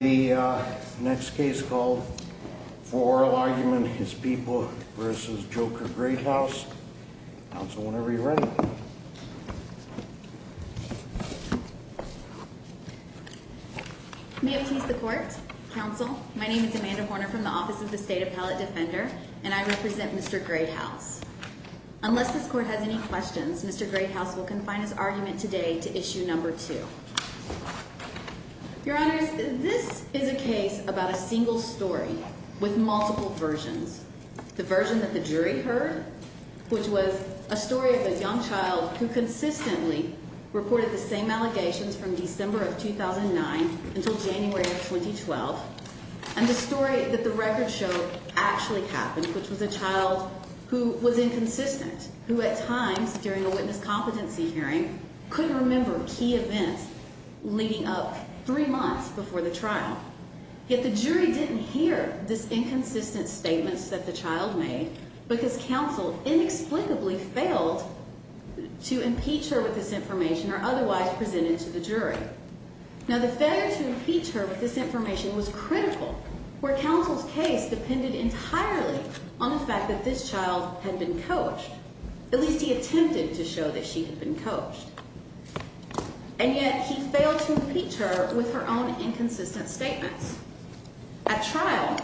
The next case called for oral argument is People v. Joker Greathouse. Council, whenever you're ready. May it please the court. Council, my name is Amanda Horner from the Office of the State Appellate Defender and I represent Mr. Greathouse. Unless this court has any questions, Mr. Greathouse will confine his argument today to issue number two. Your Honor, this is a case about a single story with multiple versions. The version that the jury heard, which was a story of a young child who consistently reported the same allegations from December of 2009 until January of 2012. And the story that the record showed actually happened, which was a child who was inconsistent, who at times during a witness competency hearing couldn't remember key events leading up three months before the trial. Yet the jury didn't hear this inconsistent statements that the child made because Council inexplicably failed to impeach her with this information or otherwise present it to the jury. Now the failure to impeach her with this information was critical, where Council's case depended entirely on the fact that this child had been coached. At least he attempted to show that she had been coached. And yet he failed to impeach her with her own inconsistent statements. At trial,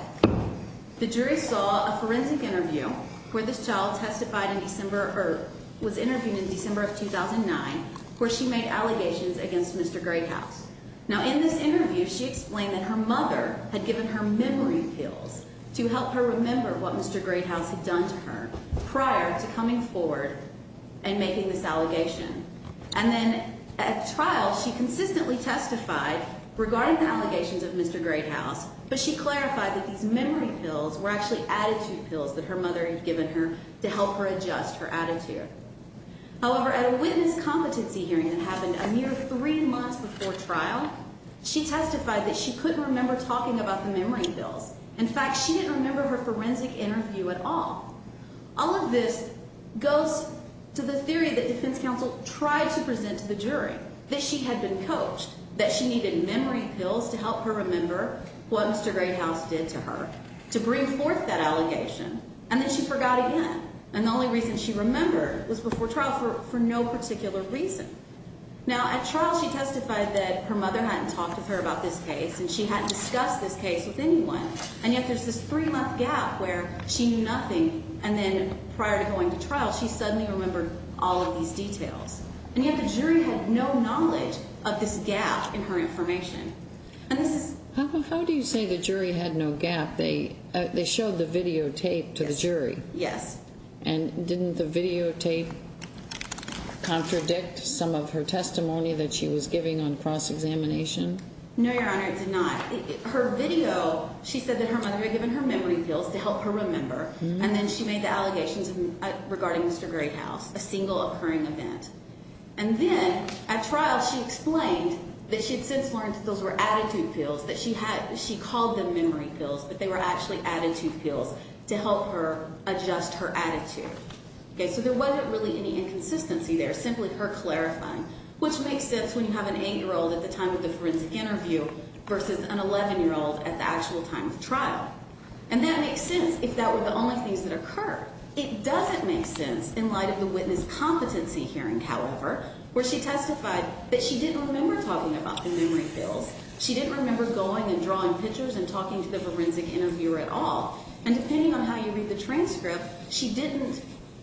the jury saw a forensic interview where this child testified in December or was interviewed in December of 2009, where she made allegations against Mr. Greathouse. Now in this interview, she explained that her mother had given her memory pills to help her remember what Mr. Greathouse had done to her prior to coming forward and making this allegation. And then at trial, she consistently testified regarding the allegations of Mr. Greathouse, but she clarified that these memory pills were actually attitude pills that her mother had given her to help her adjust her attitude. However, at a witness competency hearing that happened a mere three months before trial, she testified that she couldn't remember talking about the memory pills. In fact, she didn't remember her forensic interview at all. All of this goes to the theory that defense counsel tried to present to the jury that she had been coached, that she needed memory pills to help her remember what Mr. Greathouse did to her to bring forth that allegation. And then she forgot again. And the only reason she remembered was before trial for no particular reason. Now at trial, she testified that her mother hadn't talked with her about this case and she hadn't discussed this case with anyone. And yet there's this three month gap where she knew nothing. And then prior to going to trial, she suddenly remembered all of these details. And yet the jury had no knowledge of this gap in her information. How do you say the jury had no gap? They showed the videotape to the jury. Yes. And didn't the videotape contradict some of her testimony that she was giving on cross-examination? No, Your Honor, it did not. Her video, she said that her mother had given her memory pills to help her remember. And then she made the allegations regarding Mr. Greathouse, a single occurring event. And then at trial, she explained that she had since learned that those were attitude pills, that she had, she called them memory pills, but they were actually attitude pills to help her adjust her attitude. Okay, so there wasn't really any inconsistency there, simply her clarifying. Which makes sense when you have an eight-year-old at the time of the forensic interview versus an 11-year-old at the actual time of trial. And that makes sense if that were the only things that occurred. It doesn't make sense in light of the witness competency hearing, however, where she testified that she didn't remember talking about the memory pills. She didn't remember going and drawing pictures and talking to the forensic interviewer at all. And depending on how you read the transcript, she didn't,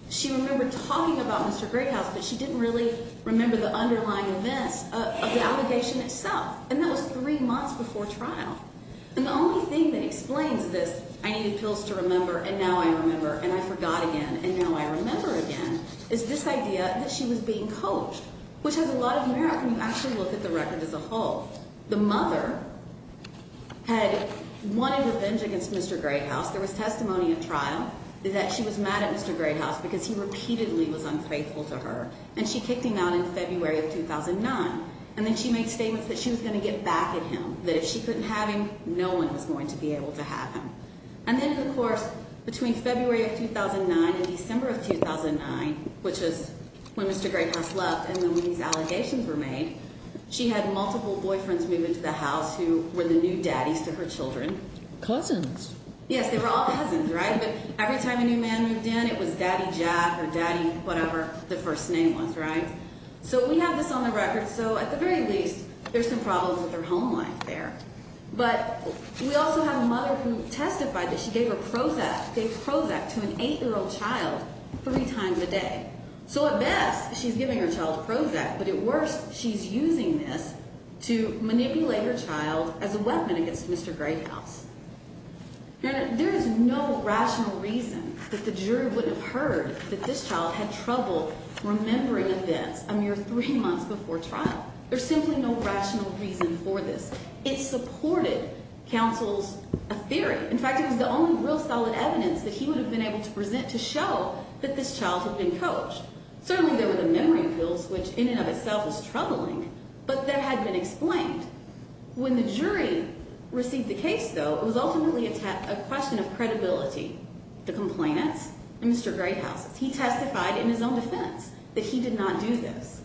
she remembered talking about Mr. Greathouse, but she didn't really remember the underlying events of the allegation itself. And that was three months before trial. And the only thing that explains this, I needed pills to remember, and now I remember, and I forgot again, and now I remember again, is this idea that she was being coached, which has a lot of merit when you actually look at the record as a whole. The mother had wanted revenge against Mr. Greathouse. There was testimony at trial that she was mad at Mr. Greathouse because he repeatedly was unfaithful to her. And she kicked him out in February of 2009. And then she made statements that she was going to get back at him, that if she couldn't have him, no one was going to be able to have him. And then, of course, between February of 2009 and December of 2009, which is when Mr. Greathouse left and when these allegations were made, she had multiple boyfriends move into the house who were the new daddies to her children. Cousins. Yes, they were all cousins, right? But every time a new man moved in, it was Daddy Jack or Daddy whatever the first name was, right? So we have this on the record. So at the very least, there's some problems with their home life there. But we also have a mother who testified that she gave her Prozac to an eight-year-old child three times a day. So at best, she's giving her child Prozac. But at worst, she's using this to manipulate her child as a weapon against Mr. Greathouse. There is no rational reason that the jury wouldn't have heard that this child had trouble remembering events a mere three months before trial. There's simply no rational reason for this. It supported counsel's theory. In fact, it was the only real solid evidence that he would have been able to present to show that this child had been coached. Certainly, there were the memory pills, which in and of itself is troubling. But that had been explained. When the jury received the case, though, it was ultimately a question of credibility. The complainants and Mr. Greathouse. He testified in his own defense that he did not do this.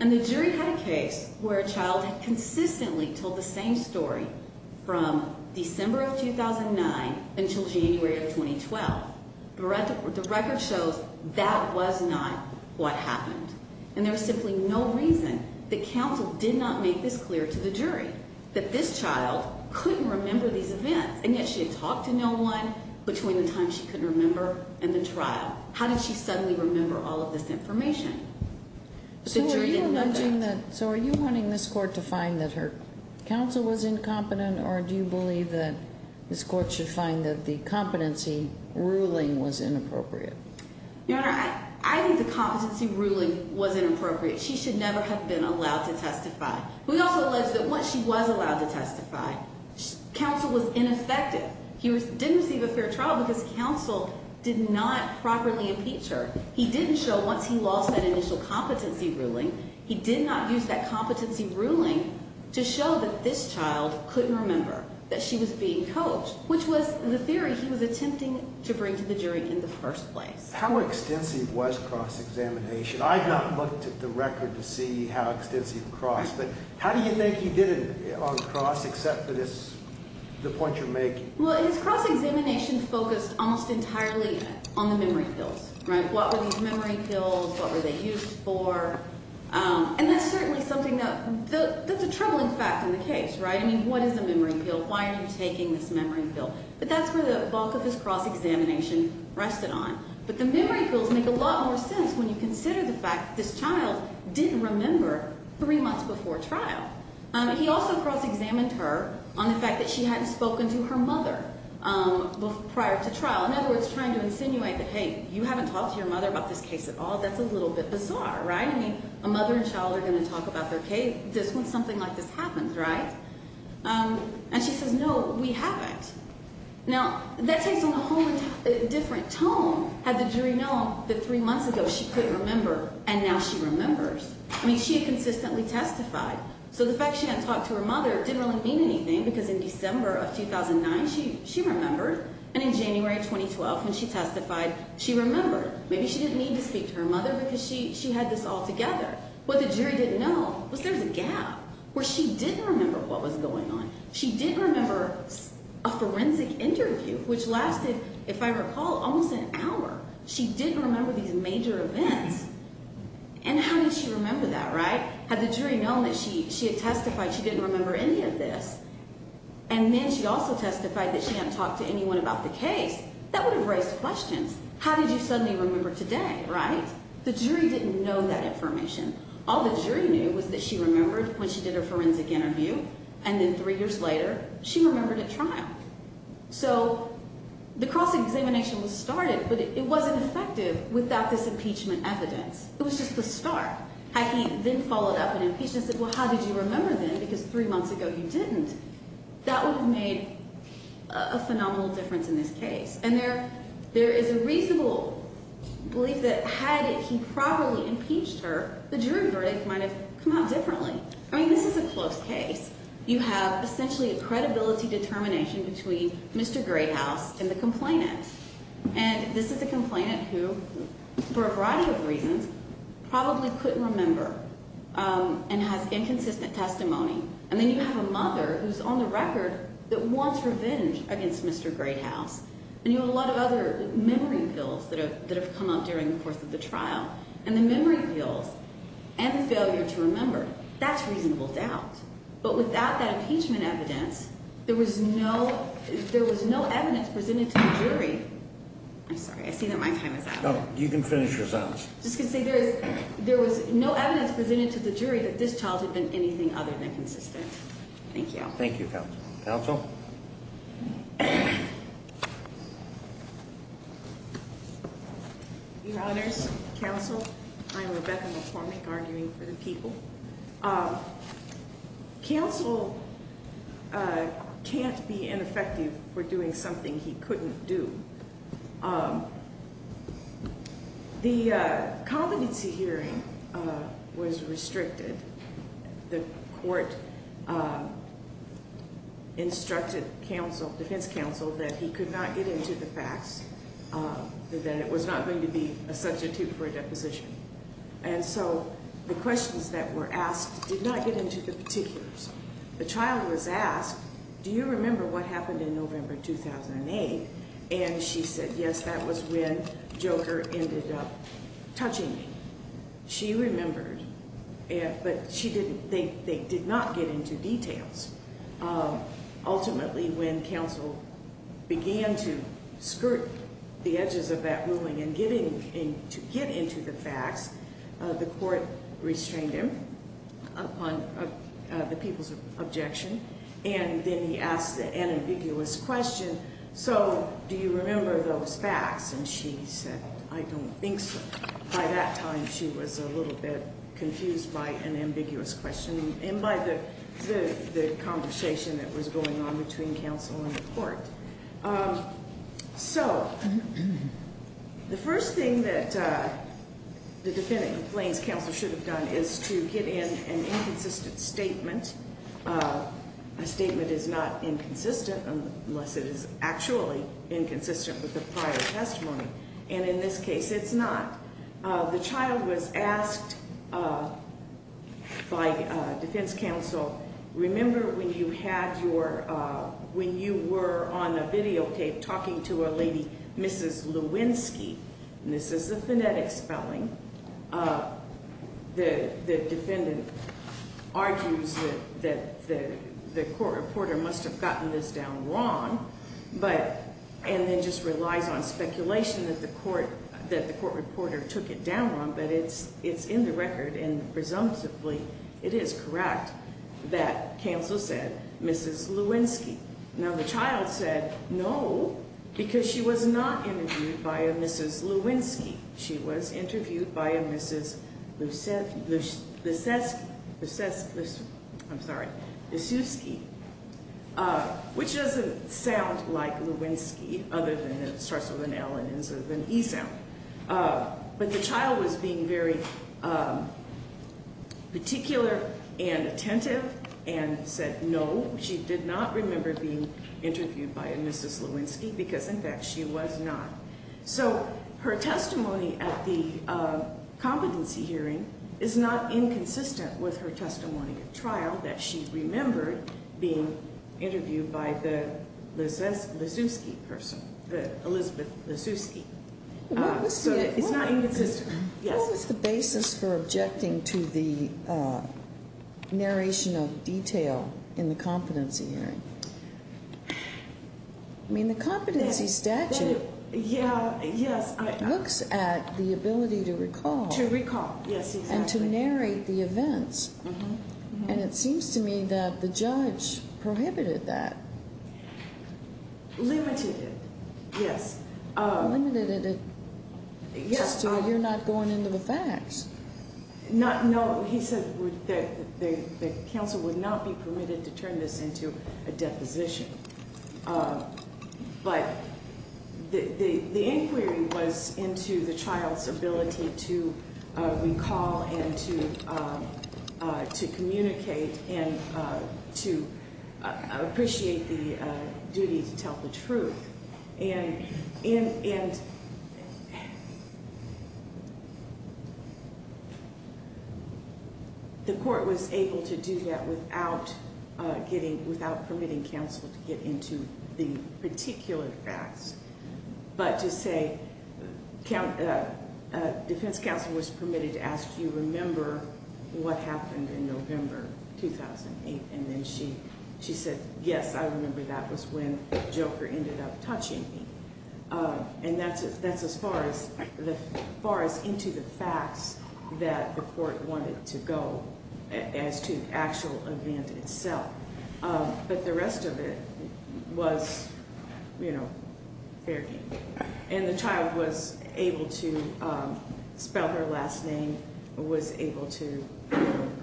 And the jury had a case where a child had consistently told the same story from December of 2009 until January of 2012. The record shows that was not what happened. And there was simply no reason that counsel did not make this clear to the jury, that this child couldn't remember these events. And yet she had talked to no one between the time she couldn't remember and the trial. How did she suddenly remember all of this information? So are you alleging that? So are you wanting this court to find that her counsel was incompetent? Or do you believe that this court should find that the competency ruling was inappropriate? Your Honor, I think the competency ruling was inappropriate. She should never have been allowed to testify. We also allege that once she was allowed to testify, counsel was ineffective. He didn't receive a fair trial because counsel did not properly impeach her. He didn't show once he lost that initial competency ruling. He did not use that competency ruling to show that this child couldn't remember that she was being coached, which was the theory he was attempting to bring to the jury in the first place. How extensive was cross-examination? I have not looked at the record to see how extensive cross, but how do you think he did on cross except for this, the point you're making? Well, his cross-examination focused almost entirely on the memory pills, right? What were these memory pills? What were they used for? And that's certainly something that, that's a troubling fact in the case, right? I mean, what is a memory pill? Why are you taking this memory pill? But that's where the bulk of his cross-examination rested on. But the memory pills make a lot more sense when you consider the fact that this child didn't remember three months before trial. He also cross-examined her on the fact that she hadn't spoken to her mother prior to trial. In other words, trying to insinuate that, hey, you haven't talked to your mother about this case at all. That's a little bit bizarre, right? I mean, a mother and child are going to talk about their case just when something like this happens, right? And she says, no, we haven't. Now, that takes on a whole different tone. Had the jury known that three months ago she couldn't remember, and now she remembers. I mean, she had consistently testified. So the fact she hadn't talked to her mother didn't really mean anything because in December of 2009, she remembered. And in January 2012, when she testified, she remembered. Maybe she didn't need to speak to her mother because she had this all together. What the jury didn't know was there's a gap where she didn't remember what was going on. She didn't remember a forensic interview, which lasted, if I recall, almost an hour. She didn't remember these major events. And how did she remember that, right? Had the jury known that she had testified she didn't remember any of this, and then she also testified that she hadn't talked to anyone about the case, that would have raised questions. How did you suddenly remember today, right? The jury didn't know that information. All the jury knew was that she remembered when she did her forensic interview, and then three years later, she remembered at trial. So the cross-examination was started, but it wasn't effective without this impeachment evidence. It was just the start. Had he then followed up an impeachment and said, well, how did you remember then, because three months ago you didn't, that would have made a phenomenal difference in this case. And there is a reasonable belief that had he properly impeached her, the jury verdict might have come out differently. I mean, this is a close case. You have essentially a credibility determination between Mr. Greathouse and the complainant. And this is a complainant who, for a variety of reasons, probably couldn't remember and has inconsistent testimony. And then you have a mother who's on the record that wants revenge against Mr. Greathouse. And you have a lot of other memory pills that have come up during the course of the trial. And the memory pills and the failure to remember, that's reasonable doubt. But without that impeachment evidence, there was no evidence presented to the jury. I'm sorry. I see that my time is up. No, you can finish your sentence. I was just going to say, there was no evidence presented to the jury that this child had been anything other than consistent. Thank you. Thank you, counsel. Counsel? Your honors, counsel, I'm Rebecca McCormick, arguing for the people. Counsel can't be ineffective for doing something he couldn't do. The competency hearing was restricted. The court instructed defense counsel that he could not get into the facts, that it was not going to be a substitute for a deposition. And so the questions that were asked did not get into the particulars. The child was asked, do you remember what happened in November 2008? And she said, yes, that was when Joker ended up touching me. She remembered, but they did not get into details. Ultimately, when counsel began to skirt the edges of that ruling and to get into the facts, the court restrained him upon the people's objection. And then he asked an ambiguous question, so do you remember those facts? And she said, I don't think so. By that time, she was a little bit confused by an ambiguous question and by the conversation that she had with him. So the first thing that the defendant complains counsel should have done is to get in an inconsistent statement. A statement is not inconsistent unless it is actually inconsistent with the prior testimony. And in this case, it's not. The child was asked by defense counsel, remember when you were on a videotape talking to a lady, Mrs. Lewinsky, and this is the phonetic spelling, the defendant argues that the court reporter must have gotten this down wrong, and then just relies on speculation that the court reporter took it down wrong. But it's in the record, and presumptively, it is correct that counsel said Mrs. Lewinsky. Now, the child said no, because she was not interviewed by a Mrs. Lewinsky. She was interviewed by a Mrs. Leszewski, which doesn't sound like Lewinsky, other than it starts with an L and ends with an E sound. But the child was being very particular and attentive and said no, she did not remember being interviewed by a Mrs. Lewinsky, because in fact, she was not. So her testimony at the competency hearing is not inconsistent with her testimony at trial that she remembered being interviewed by the Leszewski person, the Elizabeth Leszewski. So it's not inconsistent. What was the basis for objecting to the narration of detail in the competency hearing? I mean, the competency statute looks at the ability to recall and to narrate the events, and it seems to me that the judge prohibited that. Limited it, yes. Limited it just so you're not going into the facts. Not, no, he said that the counsel would not be permitted to turn this into a deposition. But the inquiry was into the child's ability to recall and to communicate and to appreciate the duty to tell the truth. And the court was able to do that without getting, without permitting counsel to get into the particular facts. But to say defense counsel was permitted to ask you remember what happened in November 2008, and then she said, yes, I remember that was when Joker ended up touching me. And that's as far as into the facts that the court wanted to go as to the actual event itself. But the rest of it was fair game. And the child was able to spell her last name, was able to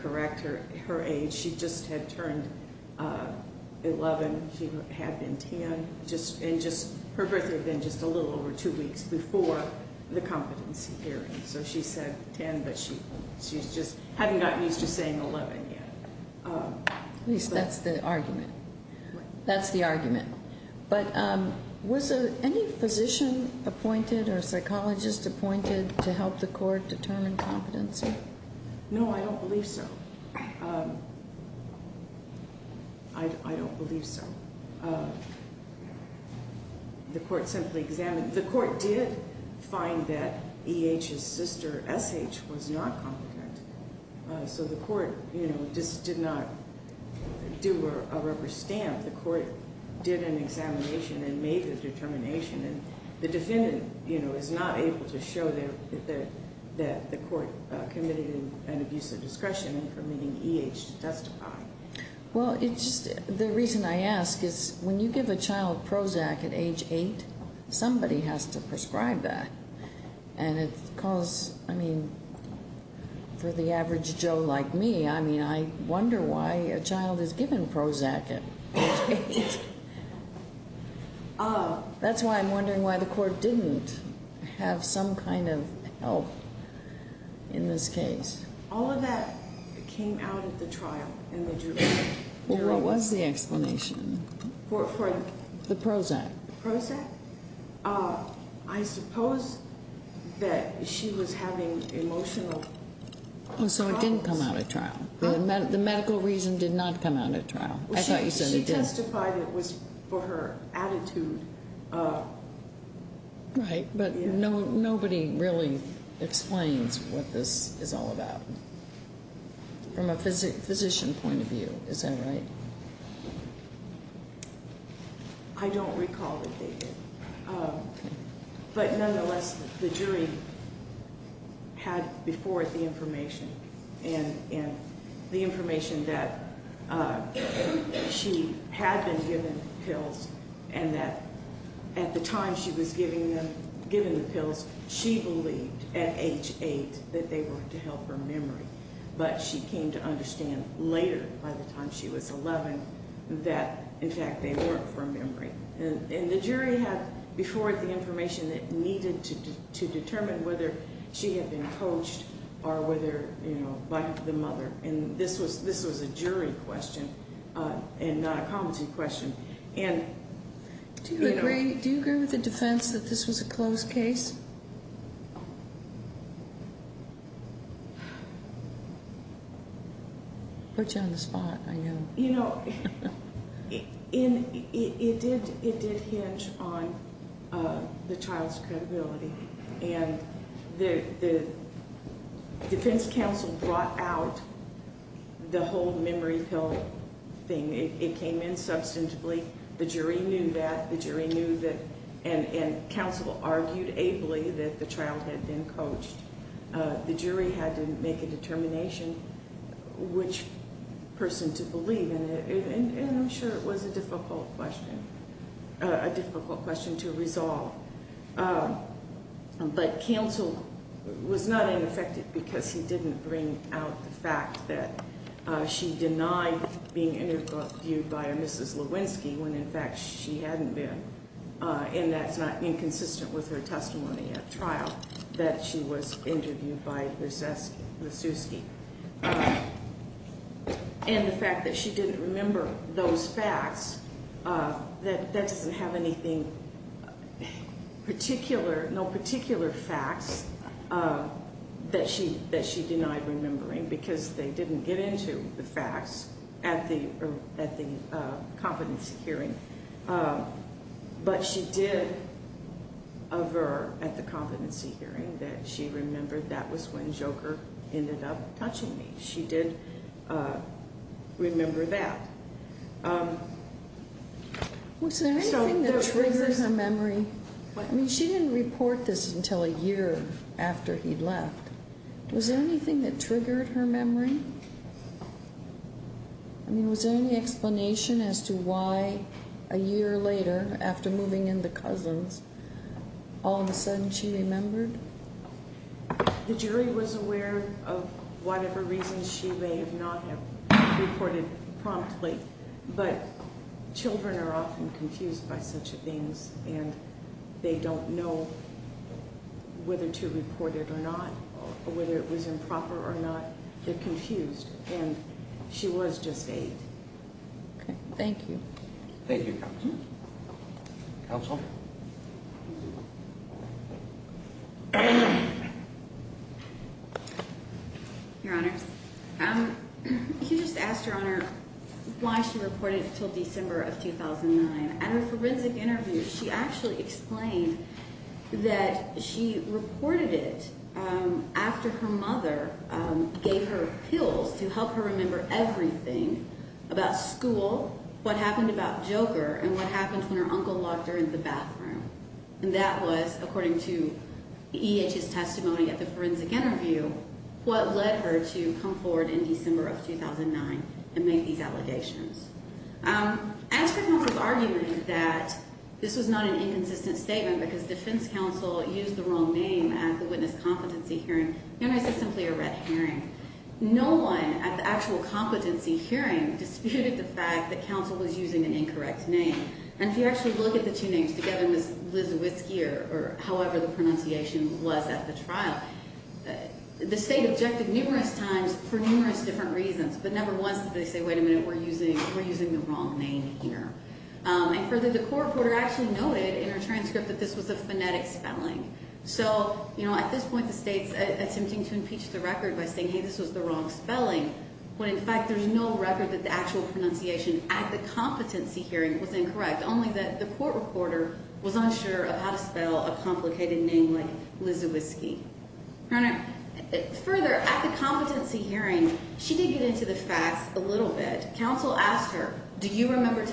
correct her age. She just had turned 11. She had been 10, and just her birthday had been just a little over two weeks before the competency hearing. So she said 10, but she's just hadn't gotten used to saying 11 yet. That's the argument. But was any physician appointed or psychologist appointed to help the court determine competency? No, I don't believe so. I don't believe so. The court simply examined. The court did find that E.H.'s sister, S.H., was not competent. So the court just did not do a rubber stamp. The court did an examination and made the determination. And the defendant is not able to show that the court committed an abuse of discretion in permitting E.H. to testify. Well, the reason I ask is when you give a child Prozac at age eight, somebody has to prescribe that. And it's because, I mean, for the average Joe like me, I mean, I wonder why a child is given Prozac at age eight. That's why I'm wondering why the court didn't have some kind of help in this case. All of that came out at the trial in the jury. What was the explanation? The Prozac. Prozac. I suppose that she was having emotional problems. So it didn't come out at trial. The medical reason did not come out at trial. I thought you said it did. She testified it was for her attitude. Right, but nobody really explains what this is all about from a physician point of view. Is that right? I don't recall that they did. But nonetheless, the jury had before it the information and the information that she had been given pills and that at the time she was given the pills, she believed at age eight that they were to help her memory. But she came to understand later by the time she was 11 that, in fact, they weren't for memory. And the jury had before it the information that needed to determine whether she had been coached or whether, you know, by the mother. And this was this was a jury question and not a competency question. And do you agree with the defense that this was a closed case? Put you on the spot, I know. You know, it did. It did hinge on the child's credibility and the defense counsel brought out the whole memory pill thing. It came in substantively. The jury knew that the jury knew that and counsel argued ably that the child had been coached. The jury had to make a determination which person to believe. And I'm sure it was a difficult question, a difficult question to resolve. But counsel was not ineffective because he didn't bring out the fact that she denied being interviewed by a Mrs. Lewinsky when, in fact, she hadn't been. And that's not inconsistent with her testimony at trial that she was interviewed by Mrs. Lewinsky. And the fact that she didn't remember those facts, that doesn't have anything particular, no particular facts that she that she denied remembering because they didn't get into the facts at the at the competency hearing. But she did aver at the competency hearing that she remembered that was when Joker ended up touching me. She did remember that. Was there anything that triggers her memory? I mean, she didn't report this until a year after he left. Was there anything that triggered her memory? I mean, was there any explanation as to why a year later, after moving in the cousins, all of a sudden she remembered? The jury was aware of whatever reasons she may not have reported promptly, but children are often confused by such things, and they don't know whether to report it or not, whether it was improper or not. They're confused. And she was just eight. OK, thank you. Thank you. Counsel. Your Honor, you just asked your honor why she reported until December of 2009. And the forensic interview, she actually explained that she reported it after her mother gave her pills to help her remember everything about school, what happened about Joker, and what happened when her uncle locked her in the bathroom. And that was, according to E.H.'s testimony at the forensic interview, what led her to come forward in December of 2009 and make these allegations. As for counsel's argument that this was not an inconsistent statement because defense counsel used the wrong name at the witness competency hearing, your Honor, this is simply a red herring. No one at the actual competency hearing disputed the fact that counsel was using an incorrect name. And if you actually look at the two names together, Ms. Liz Whiskey, or however the pronunciation was at the trial, the state objected numerous times for numerous different reasons, but never once did they say, wait a minute, we're using the wrong name here. And further, the court reporter actually noted in her transcript that this was a phonetic spelling. So at this point, the state's attempting to impeach the record by saying, hey, this was the wrong spelling, when in fact there's no record that the actual pronunciation at the competency hearing was incorrect, only that the court reporter was unsure of how to spell a complicated name like Lizzy Whiskey. Your Honor, further, at the competency hearing, she did get into the facts a little bit. Counsel asked her, do you remember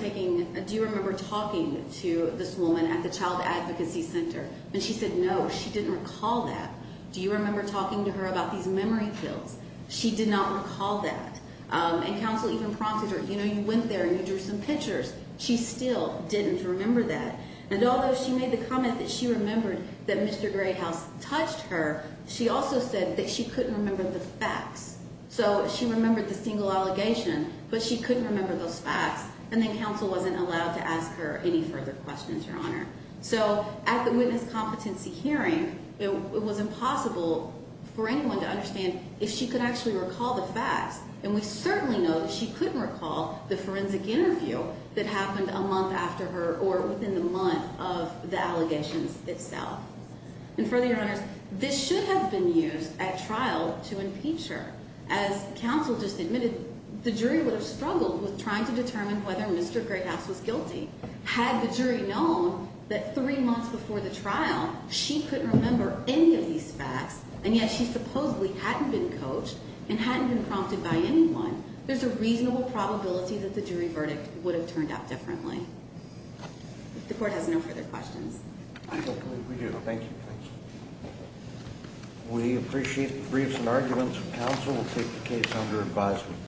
talking to this woman at the child advocacy center? And she said, no, she didn't recall that. Do you remember talking to her about these memory pills? She did not recall that. And counsel even prompted her, you know, you went there and you drew some pictures. She still didn't remember that. And although she made the comment that she remembered that Mr. Grayhouse touched her, she also said that she couldn't remember the facts. So she remembered the single allegation, but she couldn't remember those facts. And then counsel wasn't allowed to ask her any further questions, Your Honor. So at the witness competency hearing, it was impossible for anyone to understand if she could actually recall the facts. And we certainly know that she couldn't recall the forensic interview that happened a month after her or within the month of the allegations itself. And further, Your Honors, this should have been used at trial to impeach her. As counsel just admitted, the jury would have struggled with trying to determine whether Mr. Grayhouse was guilty. Had the jury known that three months before the trial, she couldn't remember any of these facts, and yet she supposedly hadn't been coached and hadn't been prompted by anyone, there's a reasonable probability that the jury verdict would have turned out differently. The court has no further questions. We do, thank you. We appreciate the briefs and arguments. Counsel will take the case under advisement.